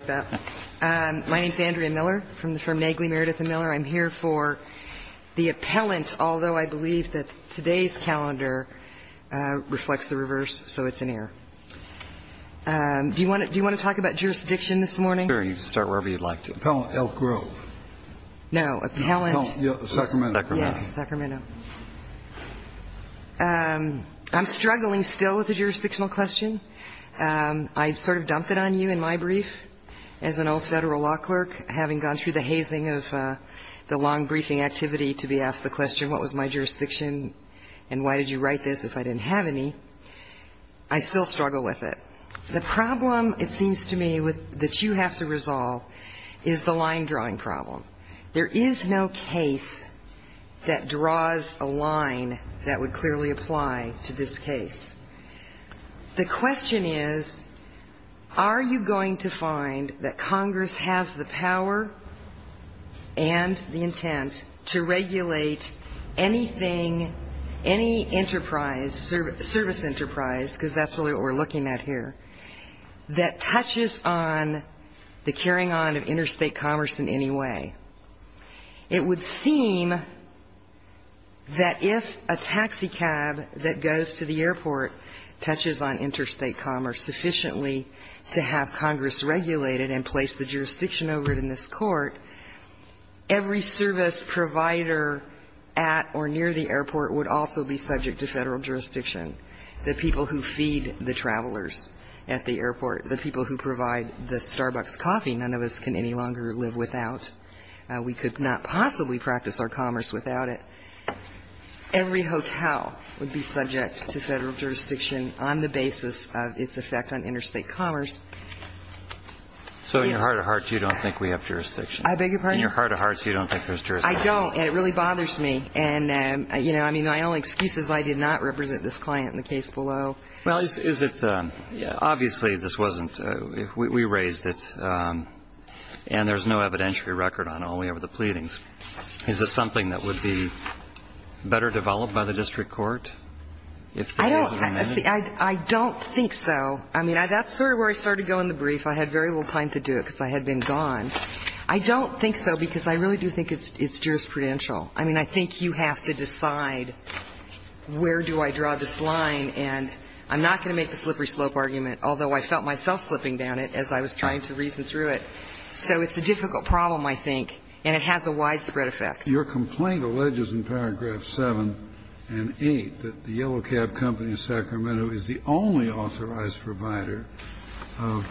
My name is Andrea Miller from the firm Nagley, Meredith & Miller. I'm here for the appellant, although I believe that today's calendar reflects the reverse, so it's an error. Do you want to talk about jurisdiction this morning? Sure, you can start wherever you'd like to. Appellant L. Grove. No, appellant. No, Sacramento. Yes, Sacramento. I'm struggling still with the jurisdictional question. I sort of dumped it on you in my brief. As an old Federal law clerk, having gone through the hazing of the long briefing activity to be asked the question, what was my jurisdiction and why did you write this if I didn't have any, I still struggle with it. The problem, it seems to me, that you have to resolve is the line drawing problem. There is no case that draws a line that would clearly apply to this case. The question is, are you going to find that Congress has the power and the intent to regulate anything, any enterprise, service enterprise, because that's really what we're looking at here, that touches on the carrying on of interstate commerce in any way? It would seem that if a taxicab that goes to the airport touches on interstate commerce sufficiently to have Congress regulate it and place the jurisdiction over it in this Court, every service provider at or near the airport would also be subject to Federal jurisdiction, the people who feed the travelers at the airport, the people who provide the Starbucks coffee none of us can any longer live without. We could not possibly practice our commerce without it. Every hotel would be subject to Federal jurisdiction on the basis of its effect on interstate commerce. So in your heart of hearts, you don't think we have jurisdiction? I beg your pardon? In your heart of hearts, you don't think there's jurisdiction? I don't, and it really bothers me. And, you know, I mean, my only excuse is I did not represent this client in the case below. Well, is it – obviously, this wasn't – we raised it, and there's no evidentiary record on it, only over the pleadings. Is it something that would be better developed by the district court if there was an amendment? I don't think so. I mean, that's sort of where I started to go in the brief. I had very little time to do it because I had been gone. I don't think so because I really do think it's jurisprudential. I mean, I think you have to decide where do I draw this line. And I'm not going to make the slippery slope argument, although I felt myself slipping down it as I was trying to reason through it. So it's a difficult problem, I think, and it has a widespread effect. Your complaint alleges in paragraph 7 and 8 that the Yellow Cab Company of Sacramento is the only authorized provider of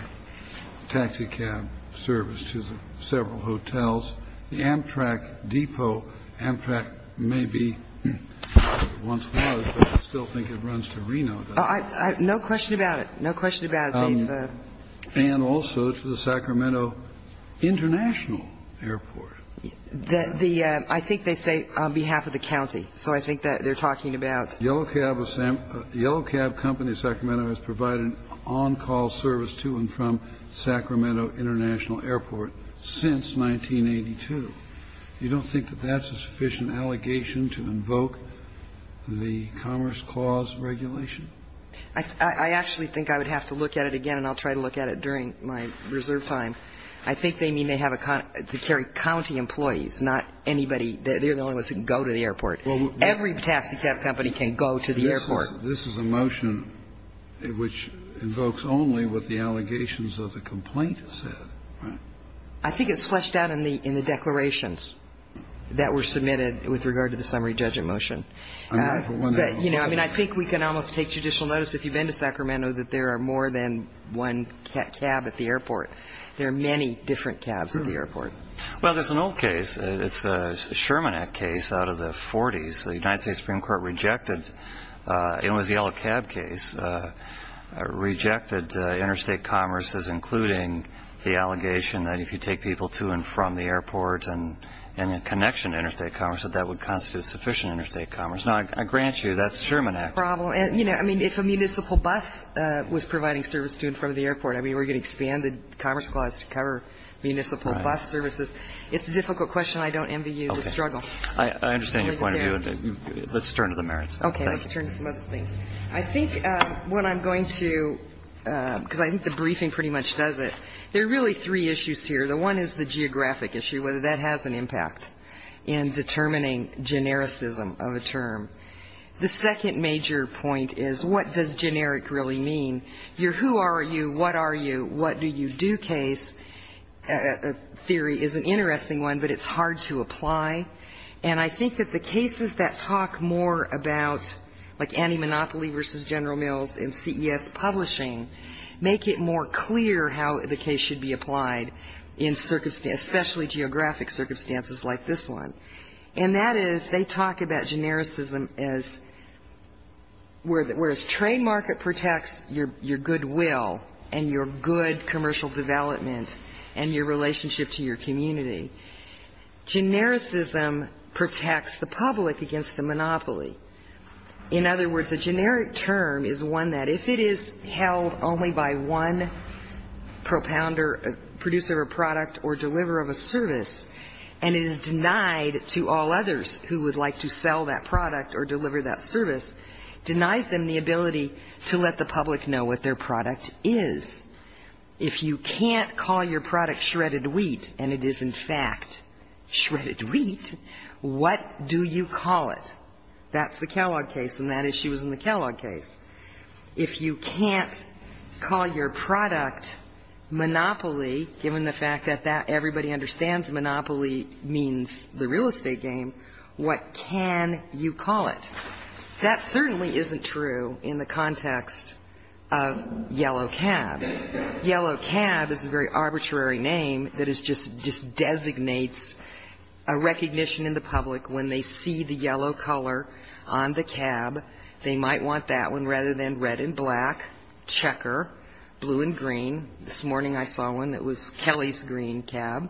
taxi cab service to several hotels. The Amtrak Depot, Amtrak maybe once was, but I still think it runs to Reno. No question about it. No question about it. And also to the Sacramento International Airport. The – I think they say on behalf of the county. So I think that they're talking about – Yellow Cab Company of Sacramento has provided on-call service to and from Sacramento International Airport since 1982. You don't think that that's a sufficient allegation to invoke the Commerce Clause regulation? I actually think I would have to look at it again, and I'll try to look at it during my reserve time. I think they mean they have a – to carry county employees, not anybody – they're the only ones who can go to the airport. Every taxi cab company can go to the airport. This is a motion which invokes only what the allegations of the complaint said. Right. I think it's fleshed out in the declarations that were submitted with regard to the summary judgment motion. But, you know, I mean, I think we can almost take judicial notice if you've been to Sacramento that there are more than one cab at the airport. There are many different cabs at the airport. Well, there's an old case. It's a Sherman Act case out of the 40s. The United States Supreme Court rejected – it was the yellow cab case – rejected interstate commerce as including the allegation that if you take people to and from the airport and in connection to interstate commerce, that that would constitute sufficient interstate commerce. Now, I grant you that's Sherman Act. No problem. And, you know, I mean, if a municipal bus was providing service to and from the airport, I mean, we're going to expand the Commerce Clause to cover municipal bus services. It's a difficult question. I don't envy you the struggle. I understand your point of view. Let's turn to the merits. Okay. Let's turn to some other things. I think what I'm going to – because I think the briefing pretty much does it. There are really three issues here. The one is the geographic issue, whether that has an impact in determining genericism of a term. The second major point is what does generic really mean. Your who are you, what are you, what do you do case theory is an interesting one, but it's hard to apply. And I think that the cases that talk more about, like anti-monopoly versus General Mills and CES publishing, make it more clear how the case should be applied in circumstances – especially geographic circumstances like this one. And that is they talk about genericism as whereas trade market protects your good will and your good commercial development and your relationship to your community. Genericism protects the public against a monopoly. In other words, a generic term is one that if it is held only by one producer of a product or deliverer of a service, and it is denied to all others who would like to sell that product or deliver that service, denies them the ability to let the public know what their product is. If you can't call your product shredded wheat, and it is, in fact, shredded wheat, what do you call it? That's the Kellogg case, and that issue is in the Kellogg case. If you can't call your product monopoly, given the fact that everybody understands monopoly means the real estate game, what can you call it? That certainly isn't true in the context of Yellow Cab. Yellow Cab is a very arbitrary name that just designates a recognition in the public when they see the yellow color on the cab, they might want that one rather than red and black, checker, blue and green. This morning I saw one that was Kelly's green cab.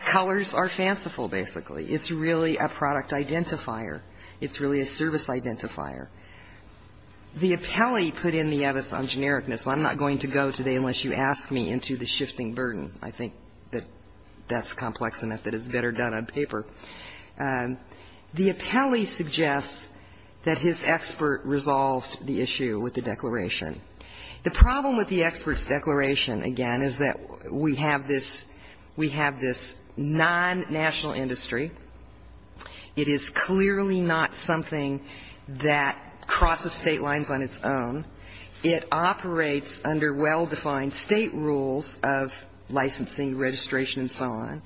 Colors are fanciful, basically. It's really a product identifier. It's really a service identifier. The appellee put in the evidence on genericness. I'm not going to go today unless you ask me into the shifting burden. I think that that's complex enough that it's better done on paper. The appellee suggests that his expert resolved the issue with the declaration. The problem with the expert's declaration, again, is that we have this non-national industry. It is clearly not something that crosses State lines on its own. It operates under well-defined State rules of licensing, registration and so on.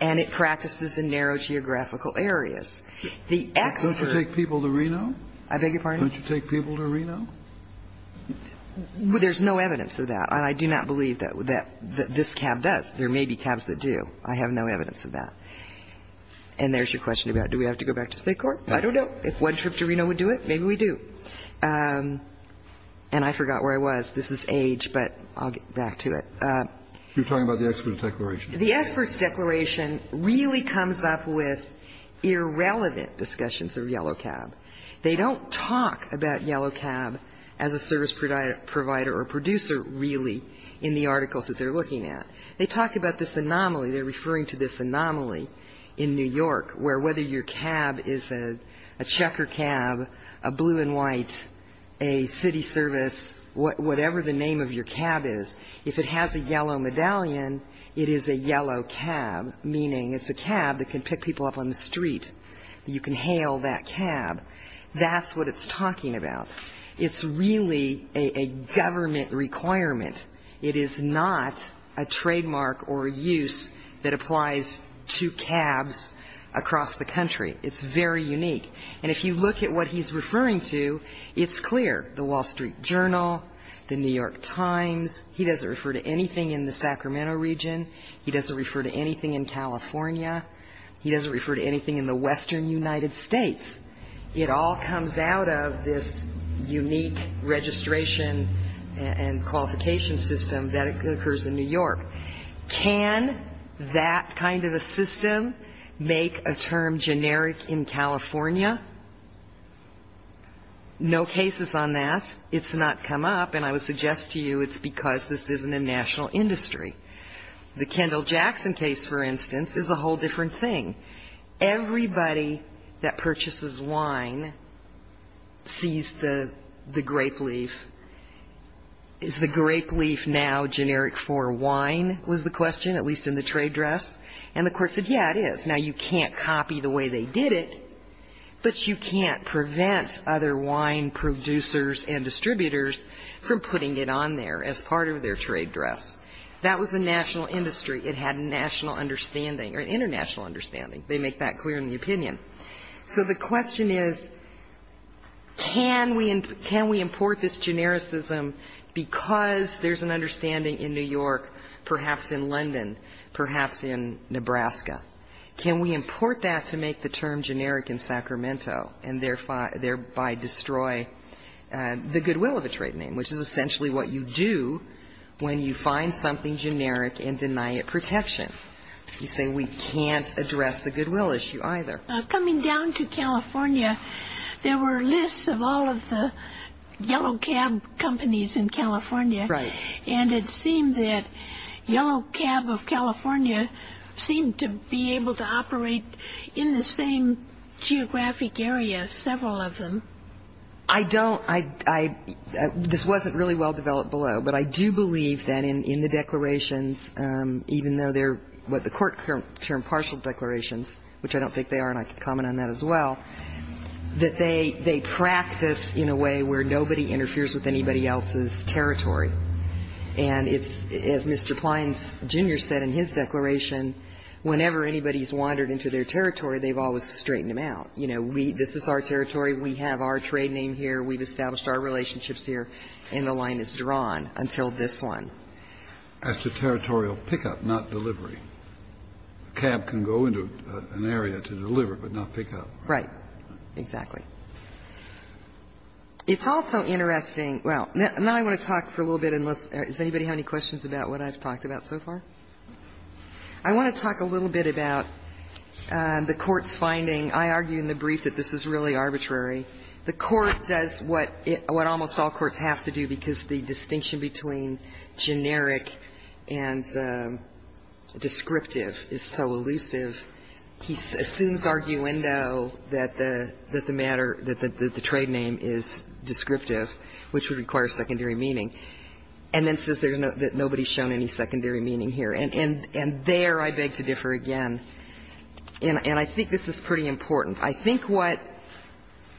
And it practices in narrow geographical areas. The expert's. Kennedy. Don't you take people to Reno? I beg your pardon? Don't you take people to Reno? There's no evidence of that. And I do not believe that this cab does. There may be cabs that do. I have no evidence of that. And there's your question about do we have to go back to State court? I don't know. If one trip to Reno would do it, maybe we do. And I forgot where I was. This is age, but I'll get back to it. You're talking about the expert's declaration. The expert's declaration really comes up with irrelevant discussions of yellow cab. They don't talk about yellow cab as a service provider or producer, really, in the articles that they're looking at. They talk about this anomaly. They're referring to this anomaly in New York where whether your cab is a checker cab, a blue and white, a city service, whatever the name of your cab is, if it has a yellow medallion, it is a yellow cab, meaning it's a cab that can pick people up on the street. You can hail that cab. That's what it's talking about. It's really a government requirement. It is not a trademark or a use that applies to cabs across the country. It's very unique. And if you look at what he's referring to, it's clear. The Wall Street Journal, the New York Times, he doesn't refer to anything in the Sacramento region. He doesn't refer to anything in California. He doesn't refer to anything in the western United States. It all comes out of this unique registration and qualification system that occurs in New York. Can that kind of a system make a term generic in California? No cases on that. It's not come up. And I would suggest to you it's because this isn't a national industry. The Kendall Jackson case, for instance, is a whole different thing. Everybody that purchases wine sees the grape leaf. Is the grape leaf now generic for wine was the question, at least in the trade dress? And the court said, yeah, it is. Now, you can't copy the way they did it, but you can't prevent other wine producers and distributors from putting it on there as part of their trade dress. That was a national industry. It had a national understanding or an international understanding. They make that clear in the opinion. So the question is, can we import this genericism because there's an understanding in New York, perhaps in London, perhaps in Nebraska? Can we import that to make the term generic in Sacramento and thereby destroy the goodwill of a trade name, which is essentially what you do when you find something generic and deny it protection? You say we can't address the goodwill issue either. Coming down to California, there were lists of all of the yellow cab companies in California. Right. And it seemed that yellow cab of California seemed to be able to operate in the same geographic area, several of them. I don't. This wasn't really well developed below, but I do believe that in the declarations, even though they're what the Court termed partial declarations, which I don't think they are, and I could comment on that as well, that they practice in a way where nobody interferes with anybody else's territory. And it's, as Mr. Plines, Jr. said in his declaration, whenever anybody has wandered into their territory, they've always straightened them out. You know, this is our territory. We have our trade name here. We've established our relationships here, and the line is drawn until this one. As to territorial pickup, not delivery. A cab can go into an area to deliver, but not pick up. Right. Exactly. It's also interesting. Well, now I want to talk for a little bit, unless anybody has any questions about what I've talked about so far? I want to talk a little bit about the Court's finding. I argue in the brief that this is really arbitrary. The Court does what almost all courts have to do, because the distinction between generic and descriptive is so elusive. He assumes arguendo that the matter, that the trade name is descriptive, which would require secondary meaning, and then says that nobody has shown any secondary meaning here. And there I beg to differ again. And I think this is pretty important. I think what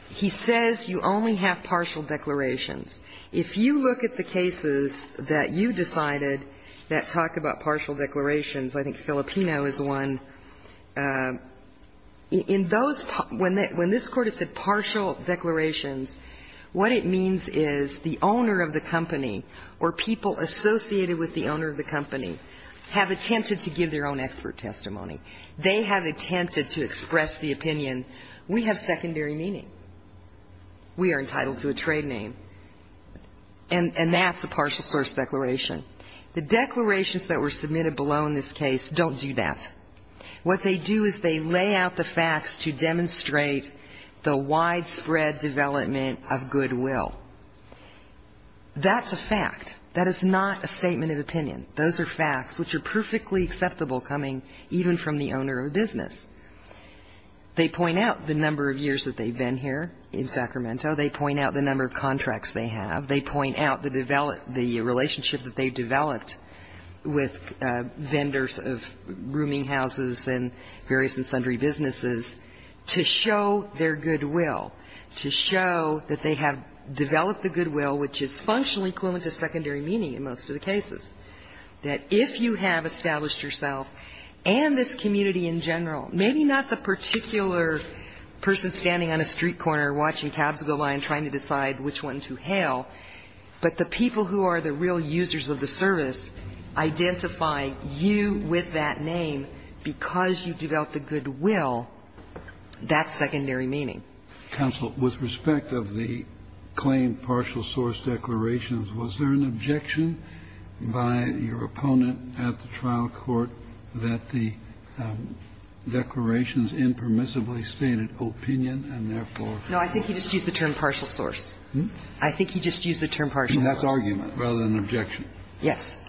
he says, you only have partial declarations. If you look at the cases that you decided that talk about partial declarations, I think Filipino is one, in those, when this Court has said partial declarations, what it means is the owner of the company or people associated with the owner of the company have attempted to give their own expert testimony. They have attempted to express the opinion, we have secondary meaning. We are entitled to a trade name. And that's a partial source declaration. The declarations that were submitted below in this case don't do that. What they do is they lay out the facts to demonstrate the widespread development of goodwill. That's a fact. That is not a statement of opinion. Those are facts which are perfectly acceptable coming even from the owner of a business. They point out the number of years that they've been here in Sacramento. They point out the number of contracts they have. They point out the relationship that they've developed with vendors of rooming houses and various and sundry businesses to show their goodwill, to show that they have developed the goodwill which is functionally equivalent to secondary meaning in most of the cases, that if you have established yourself and this community in general, maybe not the particular person standing on a street corner watching Cavs go by and trying to decide which one to hail, but the people who are the real users of the service identify you with that name because you developed the goodwill. That's secondary meaning. Kennedy. I have a question. Counsel, with respect of the claim partial source declarations, was there an objection by your opponent at the trial court that the declarations impermissibly stated opinion and therefore? No. I think he just used the term partial source. I think he just used the term partial source. That's argument rather than objection? Yes.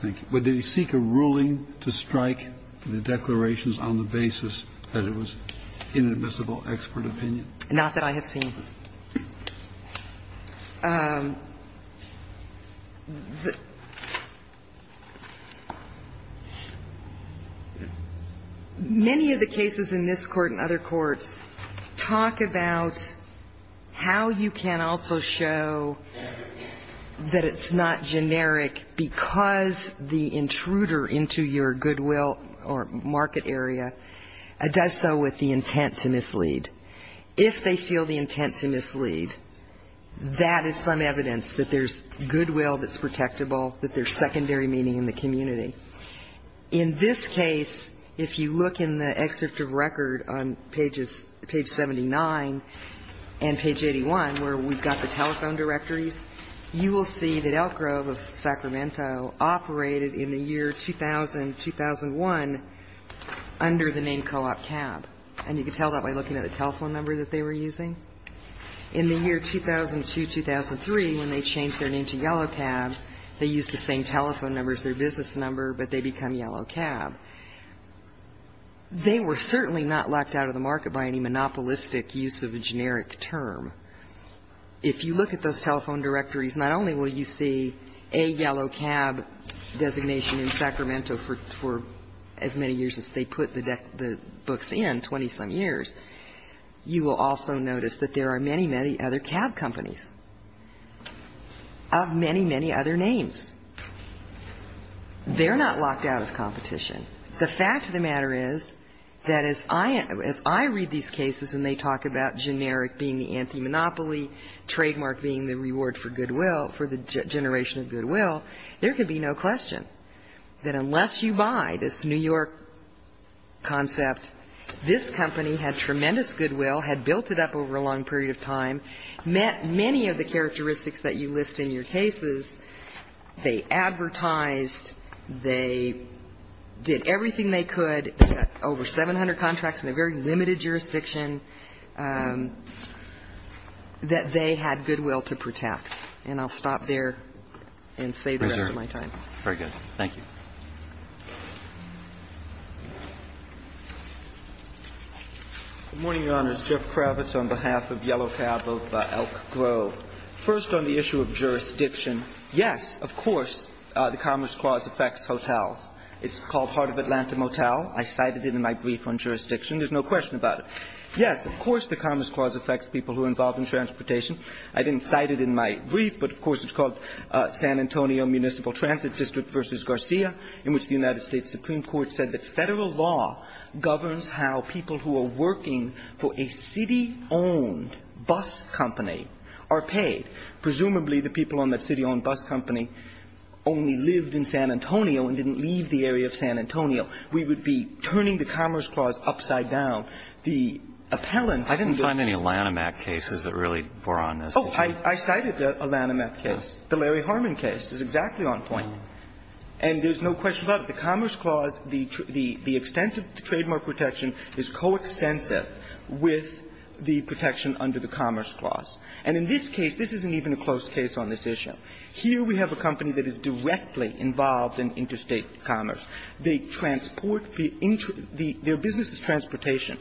Thank you. Would they seek a ruling to strike the declarations on the basis that it was inadmissible expert opinion? Not that I have seen. Many of the cases in this Court and other courts talk about how you can also show that it's not generic because the intruder into your goodwill or market area does so with the intent to mislead. If they feel the intent to mislead, that is some evidence that there's goodwill that's protectable, that there's secondary meaning in the community. In this case, if you look in the excerpt of record on page 79 and page 81, where we've got the telephone directories, you will see that Elk Grove of Sacramento operated in the year 2000-2001 under the name Co-op Cab. And you can tell that by looking at the telephone number that they were using. In the year 2002-2003, when they changed their name to Yellow Cab, they used the same telephone number as their business number, but they become Yellow Cab. They were certainly not locked out of the market by any monopolistic use of a generic term. If you look at those telephone directories, not only will you see a Yellow Cab designation in Sacramento for as many years as they put the books in, 20-some years, you will also notice that there are many, many other cab companies of many, many other names. They're not locked out of competition. The fact of the matter is that as I read these cases and they talk about generic being the anti-monopoly, trademark being the reward for goodwill, for the generation of goodwill, there could be no question that unless you buy this New York concept, this company had tremendous goodwill, had built it up over a long period of time, met many of the characteristics that you list in your cases. They advertised, they did everything they could, over 700 contracts in a very limited jurisdiction, that they had goodwill to protect. And I'll stop there and say the rest of my time. Very good. Thank you. Good morning, Your Honors. Jeff Kravitz on behalf of Yellow Cab of Elk Grove. First, on the issue of jurisdiction, yes, of course, the Commerce Clause affects hotels. It's called Heart of Atlanta Motel. I cited it in my brief on jurisdiction. There's no question about it. Yes, of course, the Commerce Clause affects people who are involved in transportation. I didn't cite it in my brief, but of course, it's called San Antonio Municipal Transit District v. Garcia, in which the United States Supreme Court said that Federal law governs how people who are working for a city-owned bus company are paid. Presumably, the people on that city-owned bus company only lived in San Antonio and didn't leave the area of San Antonio. We would be turning the Commerce Clause upside down. The appellant can go to the other side. I didn't find any Lanham Act cases that really bore on this. Oh, I cited a Lanham Act case. The Larry Harmon case is exactly on point. And there's no question about it. The Commerce Clause, the extent of the trademark protection is coextensive with the protection under the Commerce Clause. And in this case, this isn't even a close case on this issue. Here we have a company that is directly involved in interstate commerce. They transport the intra the their business is transportation.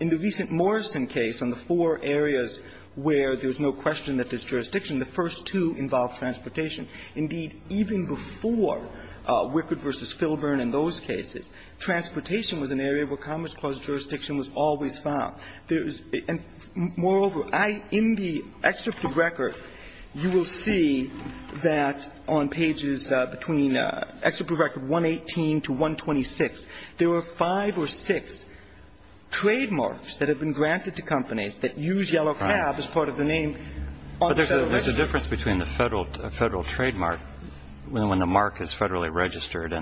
In the recent Morrison case, on the four areas where there's no question that there's jurisdiction, the first two involve transportation. Indeed, even before Wickard v. Filburn and those cases, transportation was an area where Commerce Clause jurisdiction was always found. Moreover, in the excerpt of the record, you will see that on pages between excerpt of the record 118 to 126, there were five or six trademarks that have been granted to companies that use Yellow Cab as part of the name on the Federal Register. But there's a difference between the Federal trademark when the mark is federally registered.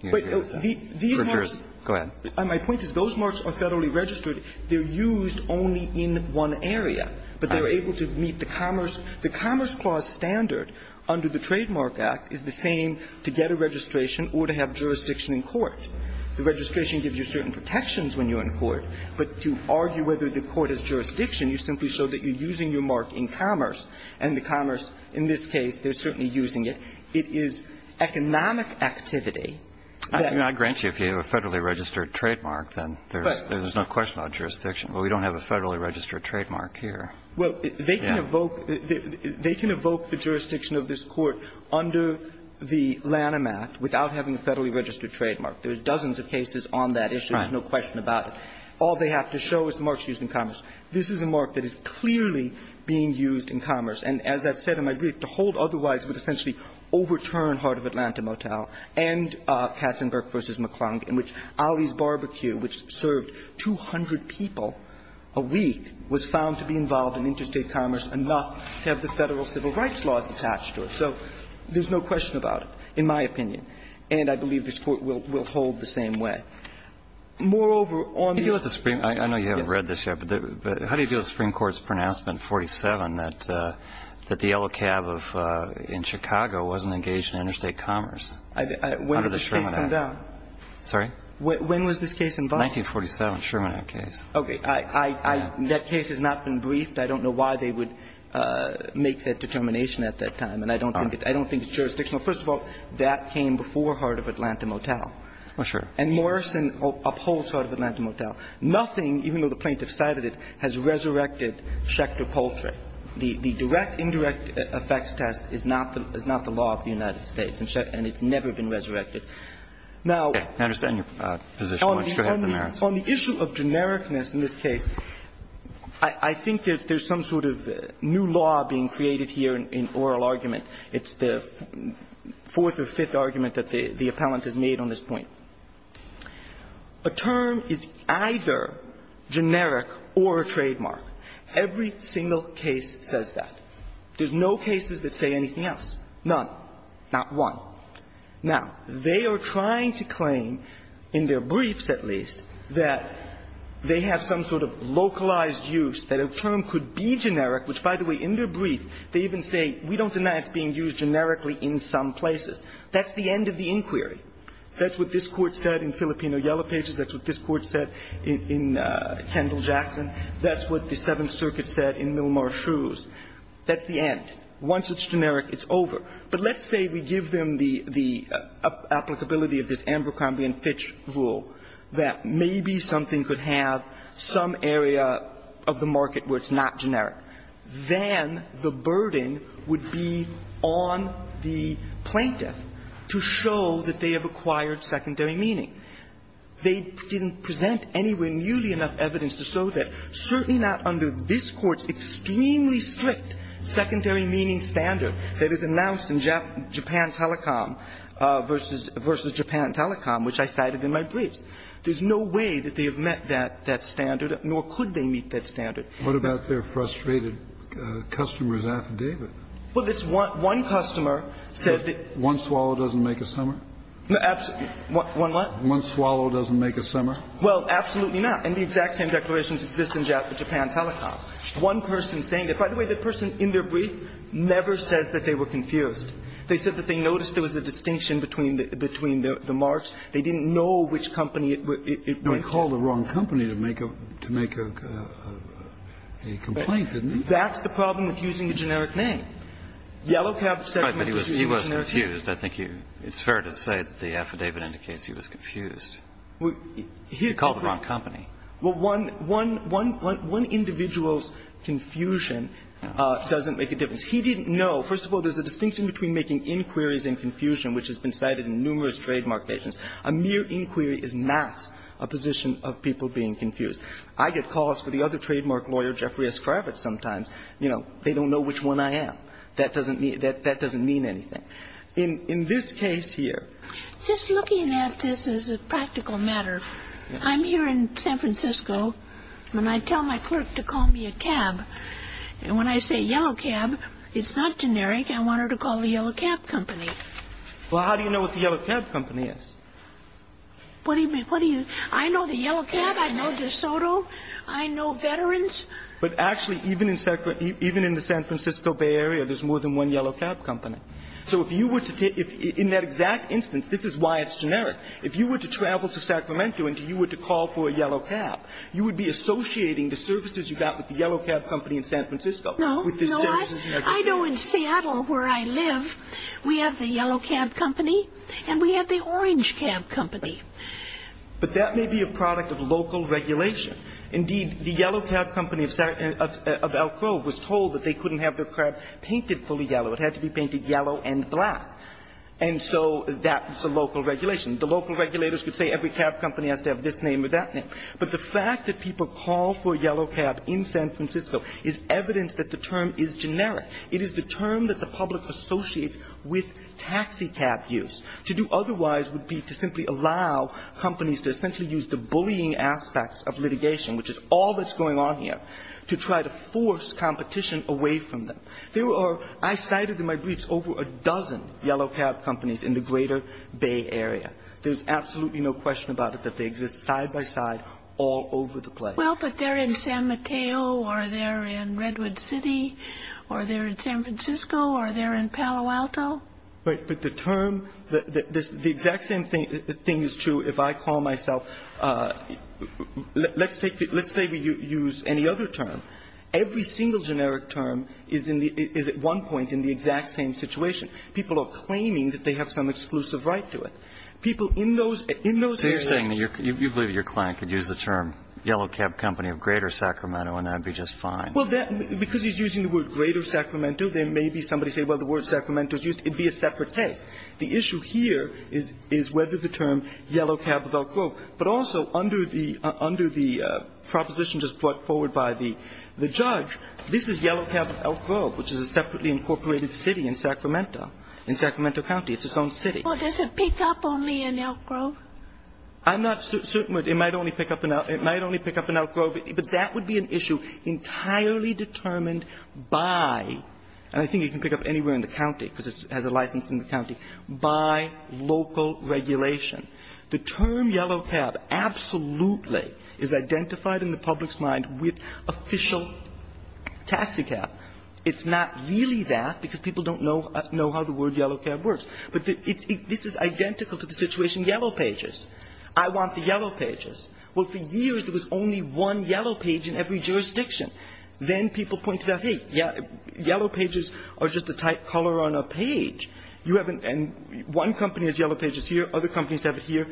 You agree with that? Go ahead. My point is those marks are federally registered. They're used only in one area. But they're able to meet the Commerce the Commerce Clause standard under the Trademark Act is the same to get a registration or to have jurisdiction in court. The registration gives you certain protections when you're in court. But to argue whether the court has jurisdiction, you simply show that you're using your mark in commerce. And the commerce in this case, they're certainly using it. It is economic activity that you're using. I grant you if you have a federally registered trademark, then there's no question about jurisdiction. But we don't have a federally registered trademark here. Well, they can evoke the jurisdiction of this Court under the Lanham Act without having a federally registered trademark. There's dozens of cases on that issue. There's no question about it. All they have to show is the mark is used in commerce. This is a mark that is clearly being used in commerce. And as I've said in my brief, to hold otherwise would essentially overturn Heart of Atlanta Motel and Katzenberg v. McClung, in which Ali's Barbecue, which served 200 people a week, was found to be involved in interstate commerce enough to have the Federal civil rights laws attached to it. So there's no question about it, in my opinion. And I believe this Court will hold the same way. Moreover, on the other hand, the Supreme Court's pronouncement, 47, that the Federal civil rights law was not in effect, that the Yellow Cab in Chicago wasn't engaged in interstate commerce under the Sherman Act. When did this case come down? Sorry? When was this case involved? 1947, Sherman Act case. Okay. I don't know why they would make that determination at that time, and I don't think it's jurisdictional. First of all, that came before Heart of Atlanta Motel. Oh, sure. And Morrison upholds Heart of Atlanta Motel. Nothing, even though the plaintiff cited it, has resurrected Schecter Poultry. The direct indirect effects test is not the law of the United States, and it's never been resurrected. Now the issue of genericness in this case, I think there's some sort of new law being created here in oral argument. It's the fourth or fifth argument that the appellant has made on this point. A term is either generic or a trademark. Every single case says that. There's no cases that say anything else. None. Not one. Now, they are trying to claim, in their briefs at least, that they have some sort of localized use, that a term could be generic, which, by the way, in their brief, they even say, we don't deny it's being used generically in some places. That's the end of the inquiry. That's what this Court said in Filipino Yellow Pages. That's what this Court said in Kendall-Jackson. That's what the Seventh Circuit said in Milmar Shrews. That's the end. Once it's generic, it's over. But let's say we give them the applicability of this Amber Combien-Fitch rule, that maybe something could have some area of the market where it's not generic. Then the burden would be on the plaintiff to show that they have acquired secondary meaning. They didn't present anywhere nearly enough evidence to show that, certainly not under this Court's extremely strict secondary meaning standard that is announced in Japan Telecom versus Japan Telecom, which I cited in my briefs. There's no way that they have met that standard, nor could they meet that standard. Kennedy, what about their frustrated customer's affidavit? Well, this one customer said that one swallow doesn't make a summer. One what? One swallow doesn't make a summer. Well, absolutely not. And the exact same declarations exist in Japan Telecom. One person saying that by the way, the person in their brief never says that they were confused. They said that they noticed there was a distinction between the marks. They didn't know which company it was. Now, he called the wrong company to make a complaint, didn't he? That's the problem with using a generic name. Yellow Cab segment is a generic name. Right, but he was confused. I think it's fair to say that the affidavit indicates he was confused. He called the wrong company. Well, one individual's confusion doesn't make a difference. He didn't know. First of all, there's a distinction between making inquiries and confusion, which has been cited in numerous trademark cases. A mere inquiry is not a position of people being confused. I get calls for the other trademark lawyer, Jeffrey S. Kravitz, sometimes. You know, they don't know which one I am. That doesn't mean anything. In this case here. Just looking at this as a practical matter, I'm here in San Francisco, and I tell my clerk to call me a cab. And when I say Yellow Cab, it's not generic. I want her to call the Yellow Cab Company. Well, how do you know what the Yellow Cab Company is? What do you mean? I know the Yellow Cab. I know DeSoto. I know veterans. But actually, even in the San Francisco Bay Area, there's more than one Yellow Cab Company. So if you were to take that exact instance, this is why it's generic. If you were to travel to Sacramento and you were to call for a Yellow Cab, you would be associating the services you got with the Yellow Cab Company in San Francisco with the services you got in the Bay Area. I know in Seattle, where I live, we have the Yellow Cab Company and we have the Orange Cab Company. But that may be a product of local regulation. Indeed, the Yellow Cab Company of Elk Grove was told that they couldn't have their cab painted fully yellow. It had to be painted yellow and black. And so that's a local regulation. The local regulators would say every cab company has to have this name or that name. But the fact that people call for Yellow Cab in San Francisco is evidence that the term is generic. It is the term that the public associates with taxicab use. To do otherwise would be to simply allow companies to essentially use the bullying aspects of litigation, which is all that's going on here, to try to force competition away from them. There are, I cited in my briefs, over a dozen Yellow Cab Companies in the greater Bay Area. There's absolutely no question about it that they exist side by side all over the place. Well, but they're in San Mateo or they're in Redwood City or they're in San Francisco or they're in Palo Alto. But the term, the exact same thing is true if I call myself, let's say we use any other term. Every single generic term is at one point in the exact same situation. People are claiming that they have some exclusive right to it. People in those areas. So you're saying that you believe your client could use the term Yellow Cab Company of greater Sacramento and that would be just fine. Well, because he's using the word greater Sacramento, there may be somebody say, well, the word Sacramento is used. It would be a separate case. The issue here is whether the term Yellow Cab of Elk Grove, but also under the proposition just brought forward by the judge, this is Yellow Cab of Elk Grove, which is a separately incorporated city in Sacramento, in Sacramento County. It's its own city. Well, does it pick up only in Elk Grove? I'm not certain it might only pick up in Elk Grove, but that would be an issue entirely determined by, and I think it can pick up anywhere in the county because it has a license in the county, by local regulation. The term Yellow Cab absolutely is identified in the public's mind with official taxicab. It's not really that because people don't know how the word Yellow Cab works. But this is identical to the situation Yellow Pages. I want the Yellow Pages. Well, for years there was only one Yellow Page in every jurisdiction. Then people pointed out, hey, Yellow Pages are just a tight color on a page. You have an one company has Yellow Pages here, other companies have it here.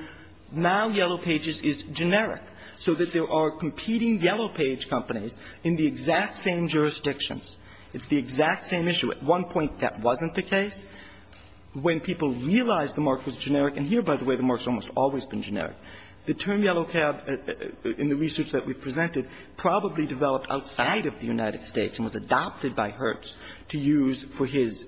Now Yellow Pages is generic so that there are competing Yellow Page companies in the exact same jurisdictions. It's the exact same issue. At one point that wasn't the case. When people realized the mark was generic, and here, by the way, the mark has almost always been generic, the term Yellow Cab in the research that we presented probably developed outside of the United States and was adopted by Hertz to use for his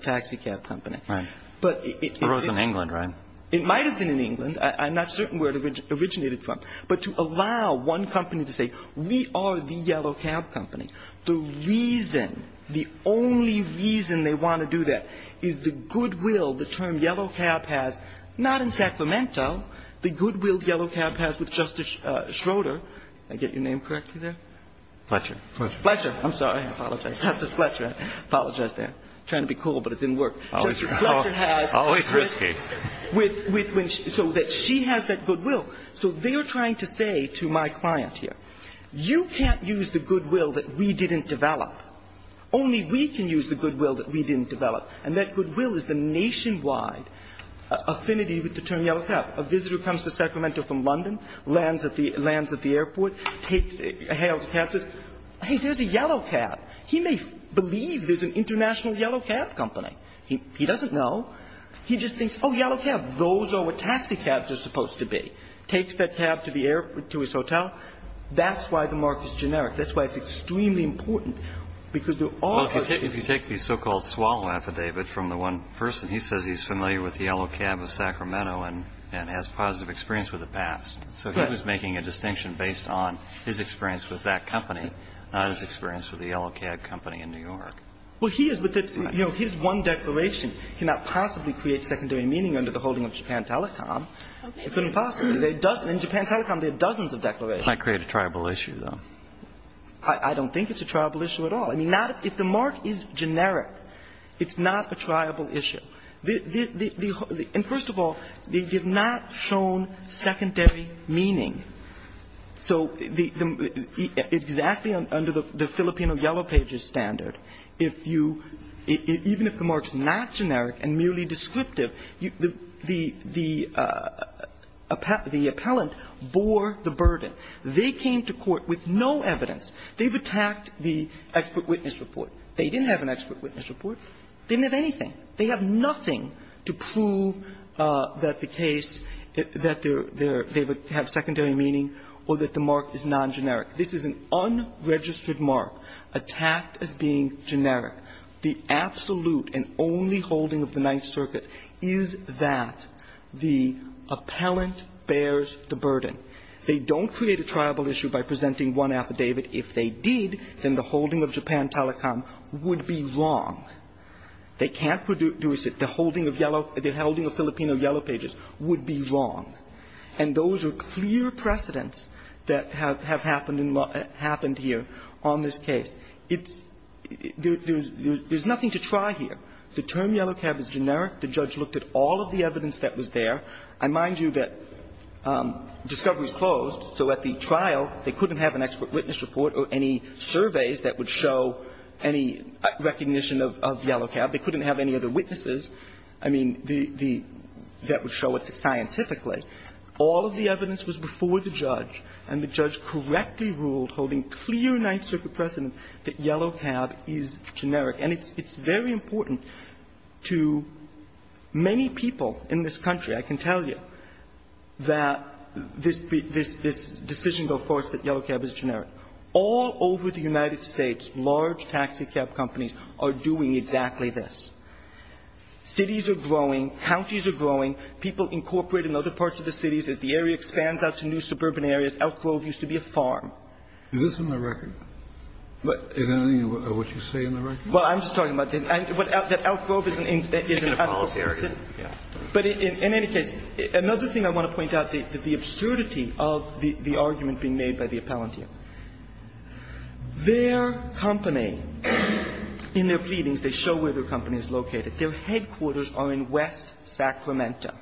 taxicab company. Right. But it was in England, right? It might have been in England. I'm not certain where it originated from. But to allow one company to say we are the Yellow Cab company, the reason the only reason they want to do that is the goodwill the term Yellow Cab has, not in Sacramento, the goodwill Yellow Cab has with Justice Schroeder. Did I get your name correctly there? Fletcher. Fletcher. Fletcher. I'm sorry. I apologize. Justice Fletcher. I apologize there. I'm trying to be cool, but it didn't work. Justice Fletcher has so that she has that goodwill. So they are trying to say to my client here, you can't use the goodwill that we didn't develop. Only we can use the goodwill that we didn't develop. And that goodwill is the nationwide affinity with the term Yellow Cab. A visitor comes to Sacramento from London, lands at the airport, takes a hail of cabs, says, hey, there's a Yellow Cab. He may believe there's an international Yellow Cab company. He doesn't know. He just thinks, oh, Yellow Cab, those are what taxicabs are supposed to be. Takes that cab to the airport, to his hotel. That's why the mark is generic. That's why it's extremely important. Because they're all of those. Well, if you take the so-called swallow affidavit from the one person, he says he's familiar with the Yellow Cab of Sacramento and has positive experience with it past. So he was making a distinction based on his experience with that company, not his experience with the Yellow Cab company in New York. Well, he is, but his one declaration cannot possibly create secondary meaning under the holding of Japan Telecom. It couldn't possibly. In Japan Telecom, there are dozens of declarations. It might create a tribal issue, though. I don't think it's a tribal issue at all. I mean, not if the mark is generic, it's not a tribal issue. The – and first of all, they did not show secondary meaning. So the – exactly under the Filipino Yellow Pages standard, if you – even if the mark's not generic and merely descriptive, the appellant bore the burden. They came to court with no evidence. They've attacked the expert witness report. They didn't have an expert witness report. They didn't have anything. They have nothing to prove that the case – that their – they have secondary meaning or that the mark is non-generic. This is an unregistered mark attacked as being generic. The absolute and only holding of the Ninth Circuit is that the appellant bears the burden. They don't create a tribal issue by presenting one affidavit. If they did, then the holding of Japan Telecom would be wrong. They can't produce it. The holding of Yellow – the holding of Filipino Yellow Pages would be wrong. And those are clear precedents that have happened in law – happened here on this case. It's – there's nothing to try here. The term Yellow Cab is generic. The judge looked at all of the evidence that was there. I mind you that discovery is closed, so at the trial, they couldn't have an expert witness report or any surveys that would show any recognition of Yellow Cab. They couldn't have any other witnesses. I mean, the – that would show it scientifically. All of the evidence was before the judge, and the judge correctly ruled, holding clear Ninth Circuit precedent, that Yellow Cab is generic. And it's very important to many people in this country. I can tell you that this – this decision goes forth that Yellow Cab is generic. All over the United States, large taxi cab companies are doing exactly this. Cities are growing. Counties are growing. People incorporate in other parts of the cities. As the area expands out to new suburban areas. Elk Grove used to be a farm. Is this in the record? Is there anything of what you say in the record? Well, I'm just talking about the – that Elk Grove is an – is an adult city. But in any case, another thing I want to point out, the – the absurdity of the argument being made by the appellant here. Their company, in their pleadings, they show where their company is located. Their headquarters are in West Sacramento.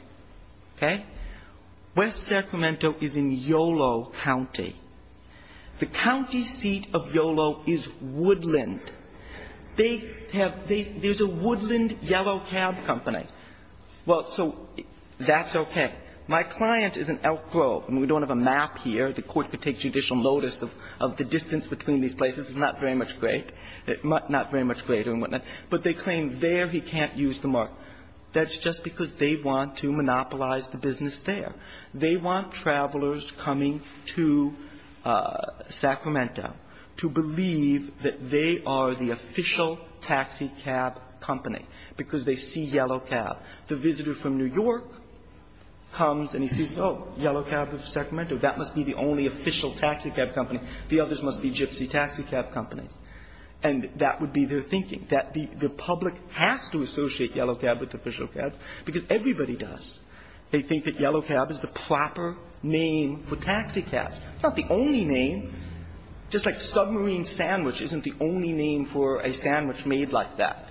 Okay? West Sacramento is in Yolo County. The county seat of Yolo is Woodland. They have – they – there's a Woodland Yellow Cab company. Well, so that's okay. My client is in Elk Grove. I mean, we don't have a map here. The Court could take judicial notice of the distance between these places. It's not very much great. It's not very much greater and whatnot. But they claim there he can't use the mark. That's just because they want to monopolize the business there. They want travelers coming to Sacramento to believe that they are the official taxicab company because they see Yellow Cab. The visitor from New York comes and he sees, oh, Yellow Cab of Sacramento. That must be the only official taxicab company. The others must be gypsy taxicab companies. And that would be their thinking, that the public has to associate Yellow Cab with official cab because everybody does. They think that Yellow Cab is the proper name for taxicabs. It's not the only name. Just like submarine sandwich isn't the only name for a sandwich made like that.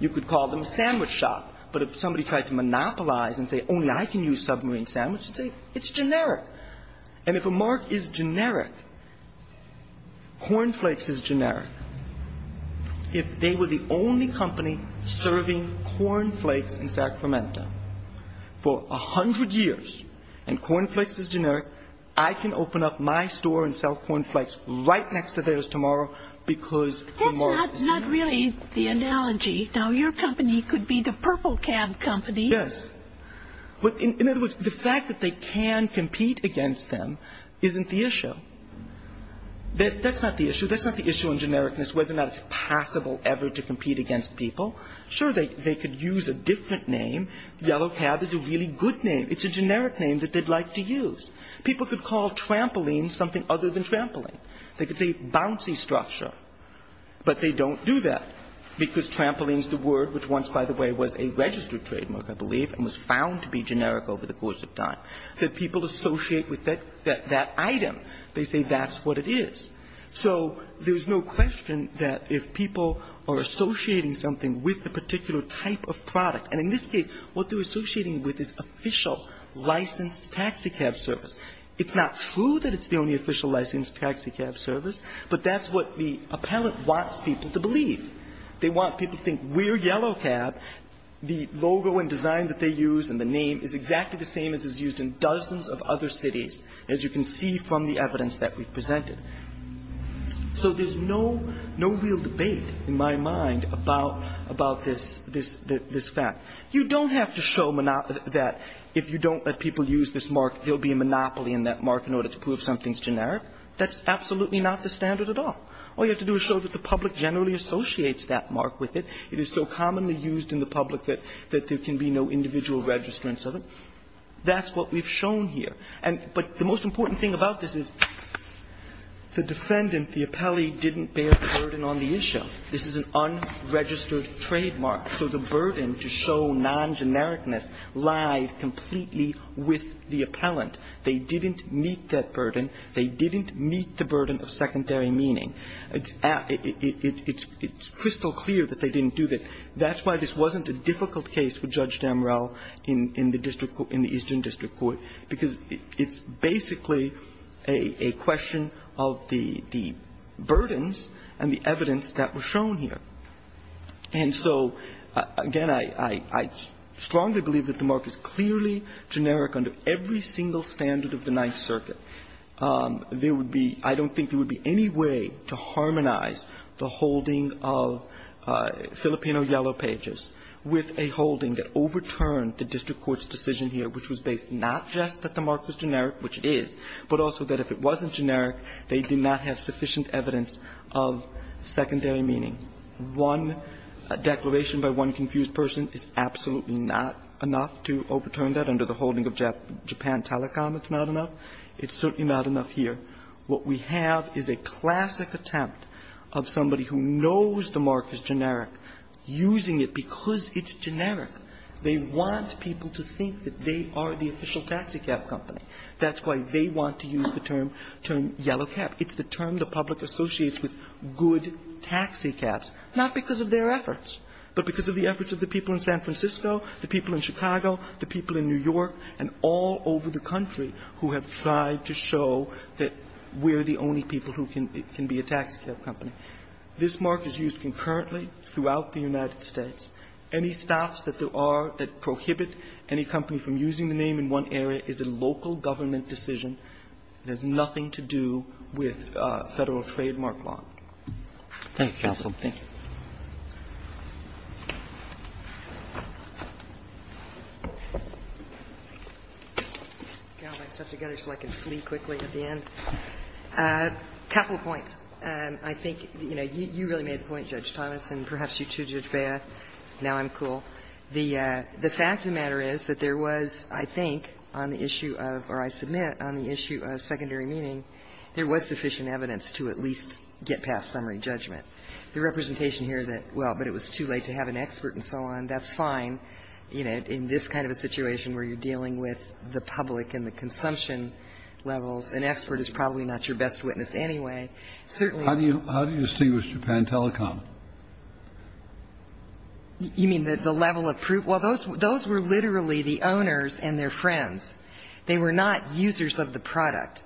You could call them sandwich shop. But if somebody tried to monopolize and say, only I can use submarine sandwich, you'd say, it's generic. And if a mark is generic, Corn Flakes is generic. If they were the only company serving Corn Flakes in Sacramento for 100 years, and Corn Flakes is generic, I can open up my store and sell Corn Flakes right next to theirs tomorrow because the mark is generic. That's not really the analogy. Now, your company could be the purple cab company. Yes. But in other words, the fact that they can compete against them isn't the issue. That's not the issue. That's not the issue in genericness, whether or not it's possible ever to compete against people. Sure, they could use a different name. Yellow Cab is a really good name. It's a generic name that they'd like to use. People could call trampoline something other than trampoline. They could say bouncy structure. But they don't do that because trampoline's the word, which once, by the way, was a registered trademark, I believe, and was found to be generic over the course of time, that people associate with that item. They say that's what it is. So there's no question that if people are associating something with a particular type of product, and in this case, what they're associating with is official licensed taxi cab service, it's not true that it's the only official licensed taxi cab service, but that's what the appellant wants people to believe. They want people to think we're Yellow Cab. The logo and design that they use and the name is exactly the same as is used in dozens of other cities, as you can see from the evidence that we've presented. So there's no real debate in my mind about this fact. You don't have to show that if you don't let people use this mark, there'll be a monopoly in that mark in order to prove something's generic. That's absolutely not the standard at all. All you have to do is show that the public generally associates that mark with it. It is so commonly used in the public that there can be no individual registrants of it. That's what we've shown here. And the most important thing about this is the defendant, the appellee, didn't bear the burden on the issue. This is an unregistered trademark, so the burden to show non-genericness lied completely with the appellant. They didn't meet that burden. They didn't meet the burden of secondary meaning. It's crystal clear that they didn't do that. That's why this wasn't a difficult case for Judge Damrell in the district court, in the Eastern District Court, because it's basically a question of the burdens and the evidence that were shown here. And so, again, I strongly believe that the mark is clearly generic under every single standard of the Ninth Circuit. There would be – I don't think there would be any way to harmonize the holding of Filipino yellow pages with a holding that overturned the district court's decision here, which was based not just that the mark was generic, which it is, but also that if it wasn't generic, they did not have sufficient evidence of secondary meaning. One declaration by one confused person is absolutely not enough to overturn that under the holding of Japan Telecom. It's not enough. It's certainly not enough here. What we have is a classic attempt of somebody who knows the mark is generic using it because it's generic. They want people to think that they are the official taxicab company. That's why they want to use the term, term yellow cap. It's the term the public associates with good taxicabs, not because of their efforts, but because of the efforts of the people in San Francisco, the people in Chicago, the people in New York, and all over the country who have tried to show that we're the only people who can be a taxicab company. This mark is used concurrently throughout the United States. Any staffs that there are that prohibit any company from using the name in one area is a local government decision. It has nothing to do with Federal trademark law. Roberts. Thank you, counsel. Thank you. I'll get my stuff together so I can flee quickly at the end. A couple of points. I think, you know, you really made the point, Judge Thomas, and perhaps you too, Judge Breyer. Now I'm cool. The fact of the matter is that there was, I think, on the issue of or I submit on the issue of secondary meaning, there was sufficient evidence to at least get past summary judgment. The representation here that, well, but it was too late to have an expert and so on, that's fine. You know, in this kind of a situation where you're dealing with the public and the consumption levels, an expert is probably not your best witness anyway. Certainly. How do you distinguish Japan Telecom? You mean the level of proof? Well, those were literally the owners and their friends. They were not users of the product.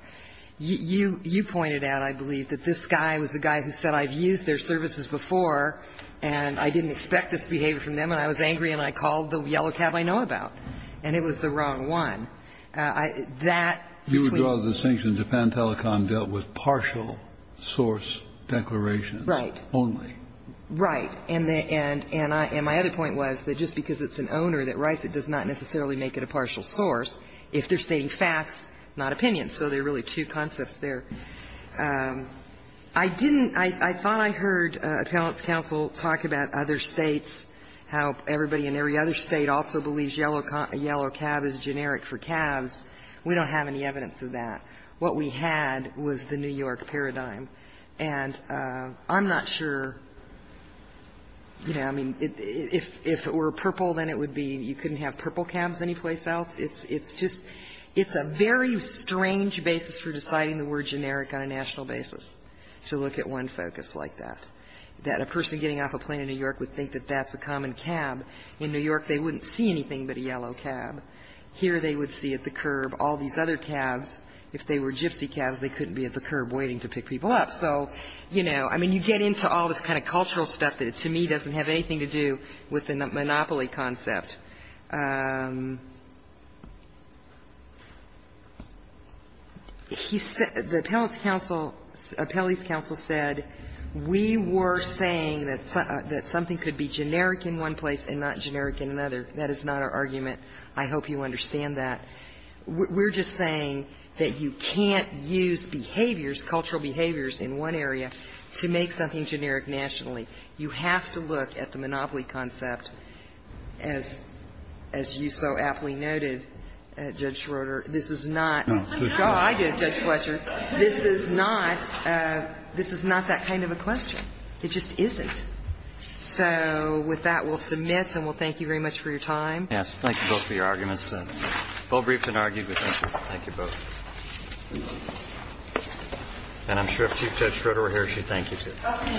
You pointed out, I believe, that this guy was the guy who said, I've used their services before and I didn't expect this behavior from them and I was angry and I called the yellow cab I know about, and it was the wrong one. That's what you're saying. The distinction, Japan Telecom dealt with partial source declarations. Right. Only. Right. And my other point was that just because it's an owner that writes it does not necessarily make it a partial source if they're stating facts, not opinions. So there are really two concepts there. I didn't – I thought I heard appellant's counsel talk about other States, how everybody in every other State also believes yellow cab is generic for calves. We don't have any evidence of that. What we had was the New York paradigm. And I'm not sure, you know, I mean, if it were purple, then it would be you couldn't have purple calves anyplace else. It's just – it's a very strange basis for deciding the word generic on a national basis, to look at one focus like that, that a person getting off a plane in New York would think that that's a common cab. In New York, they wouldn't see anything but a yellow cab. Here they would see at the curb all these other calves. If they were gypsy calves, they couldn't be at the curb waiting to pick people up. So, you know, I mean, you get into all this kind of cultural stuff that, to me, doesn't have anything to do with the monopoly concept. He said – the appellant's counsel, appellee's counsel said we were saying that something could be generic in one place and not generic in another. That is not our argument. I hope you understand that. We're just saying that you can't use behaviors, cultural behaviors, in one area to make something generic nationally. You have to look at the monopoly concept, as you so aptly noted, Judge Schroeder. This is not – oh, I did, Judge Fletcher. This is not – this is not that kind of a question. It just isn't. So with that, we'll submit and we'll thank you very much for your time. Yes. Thank you both for your arguments. Both briefed and argued with interest. Thank you both. And I'm sure if Chief Judge Schroeder were here, she'd thank you too. Okay. Thank you. Thank you.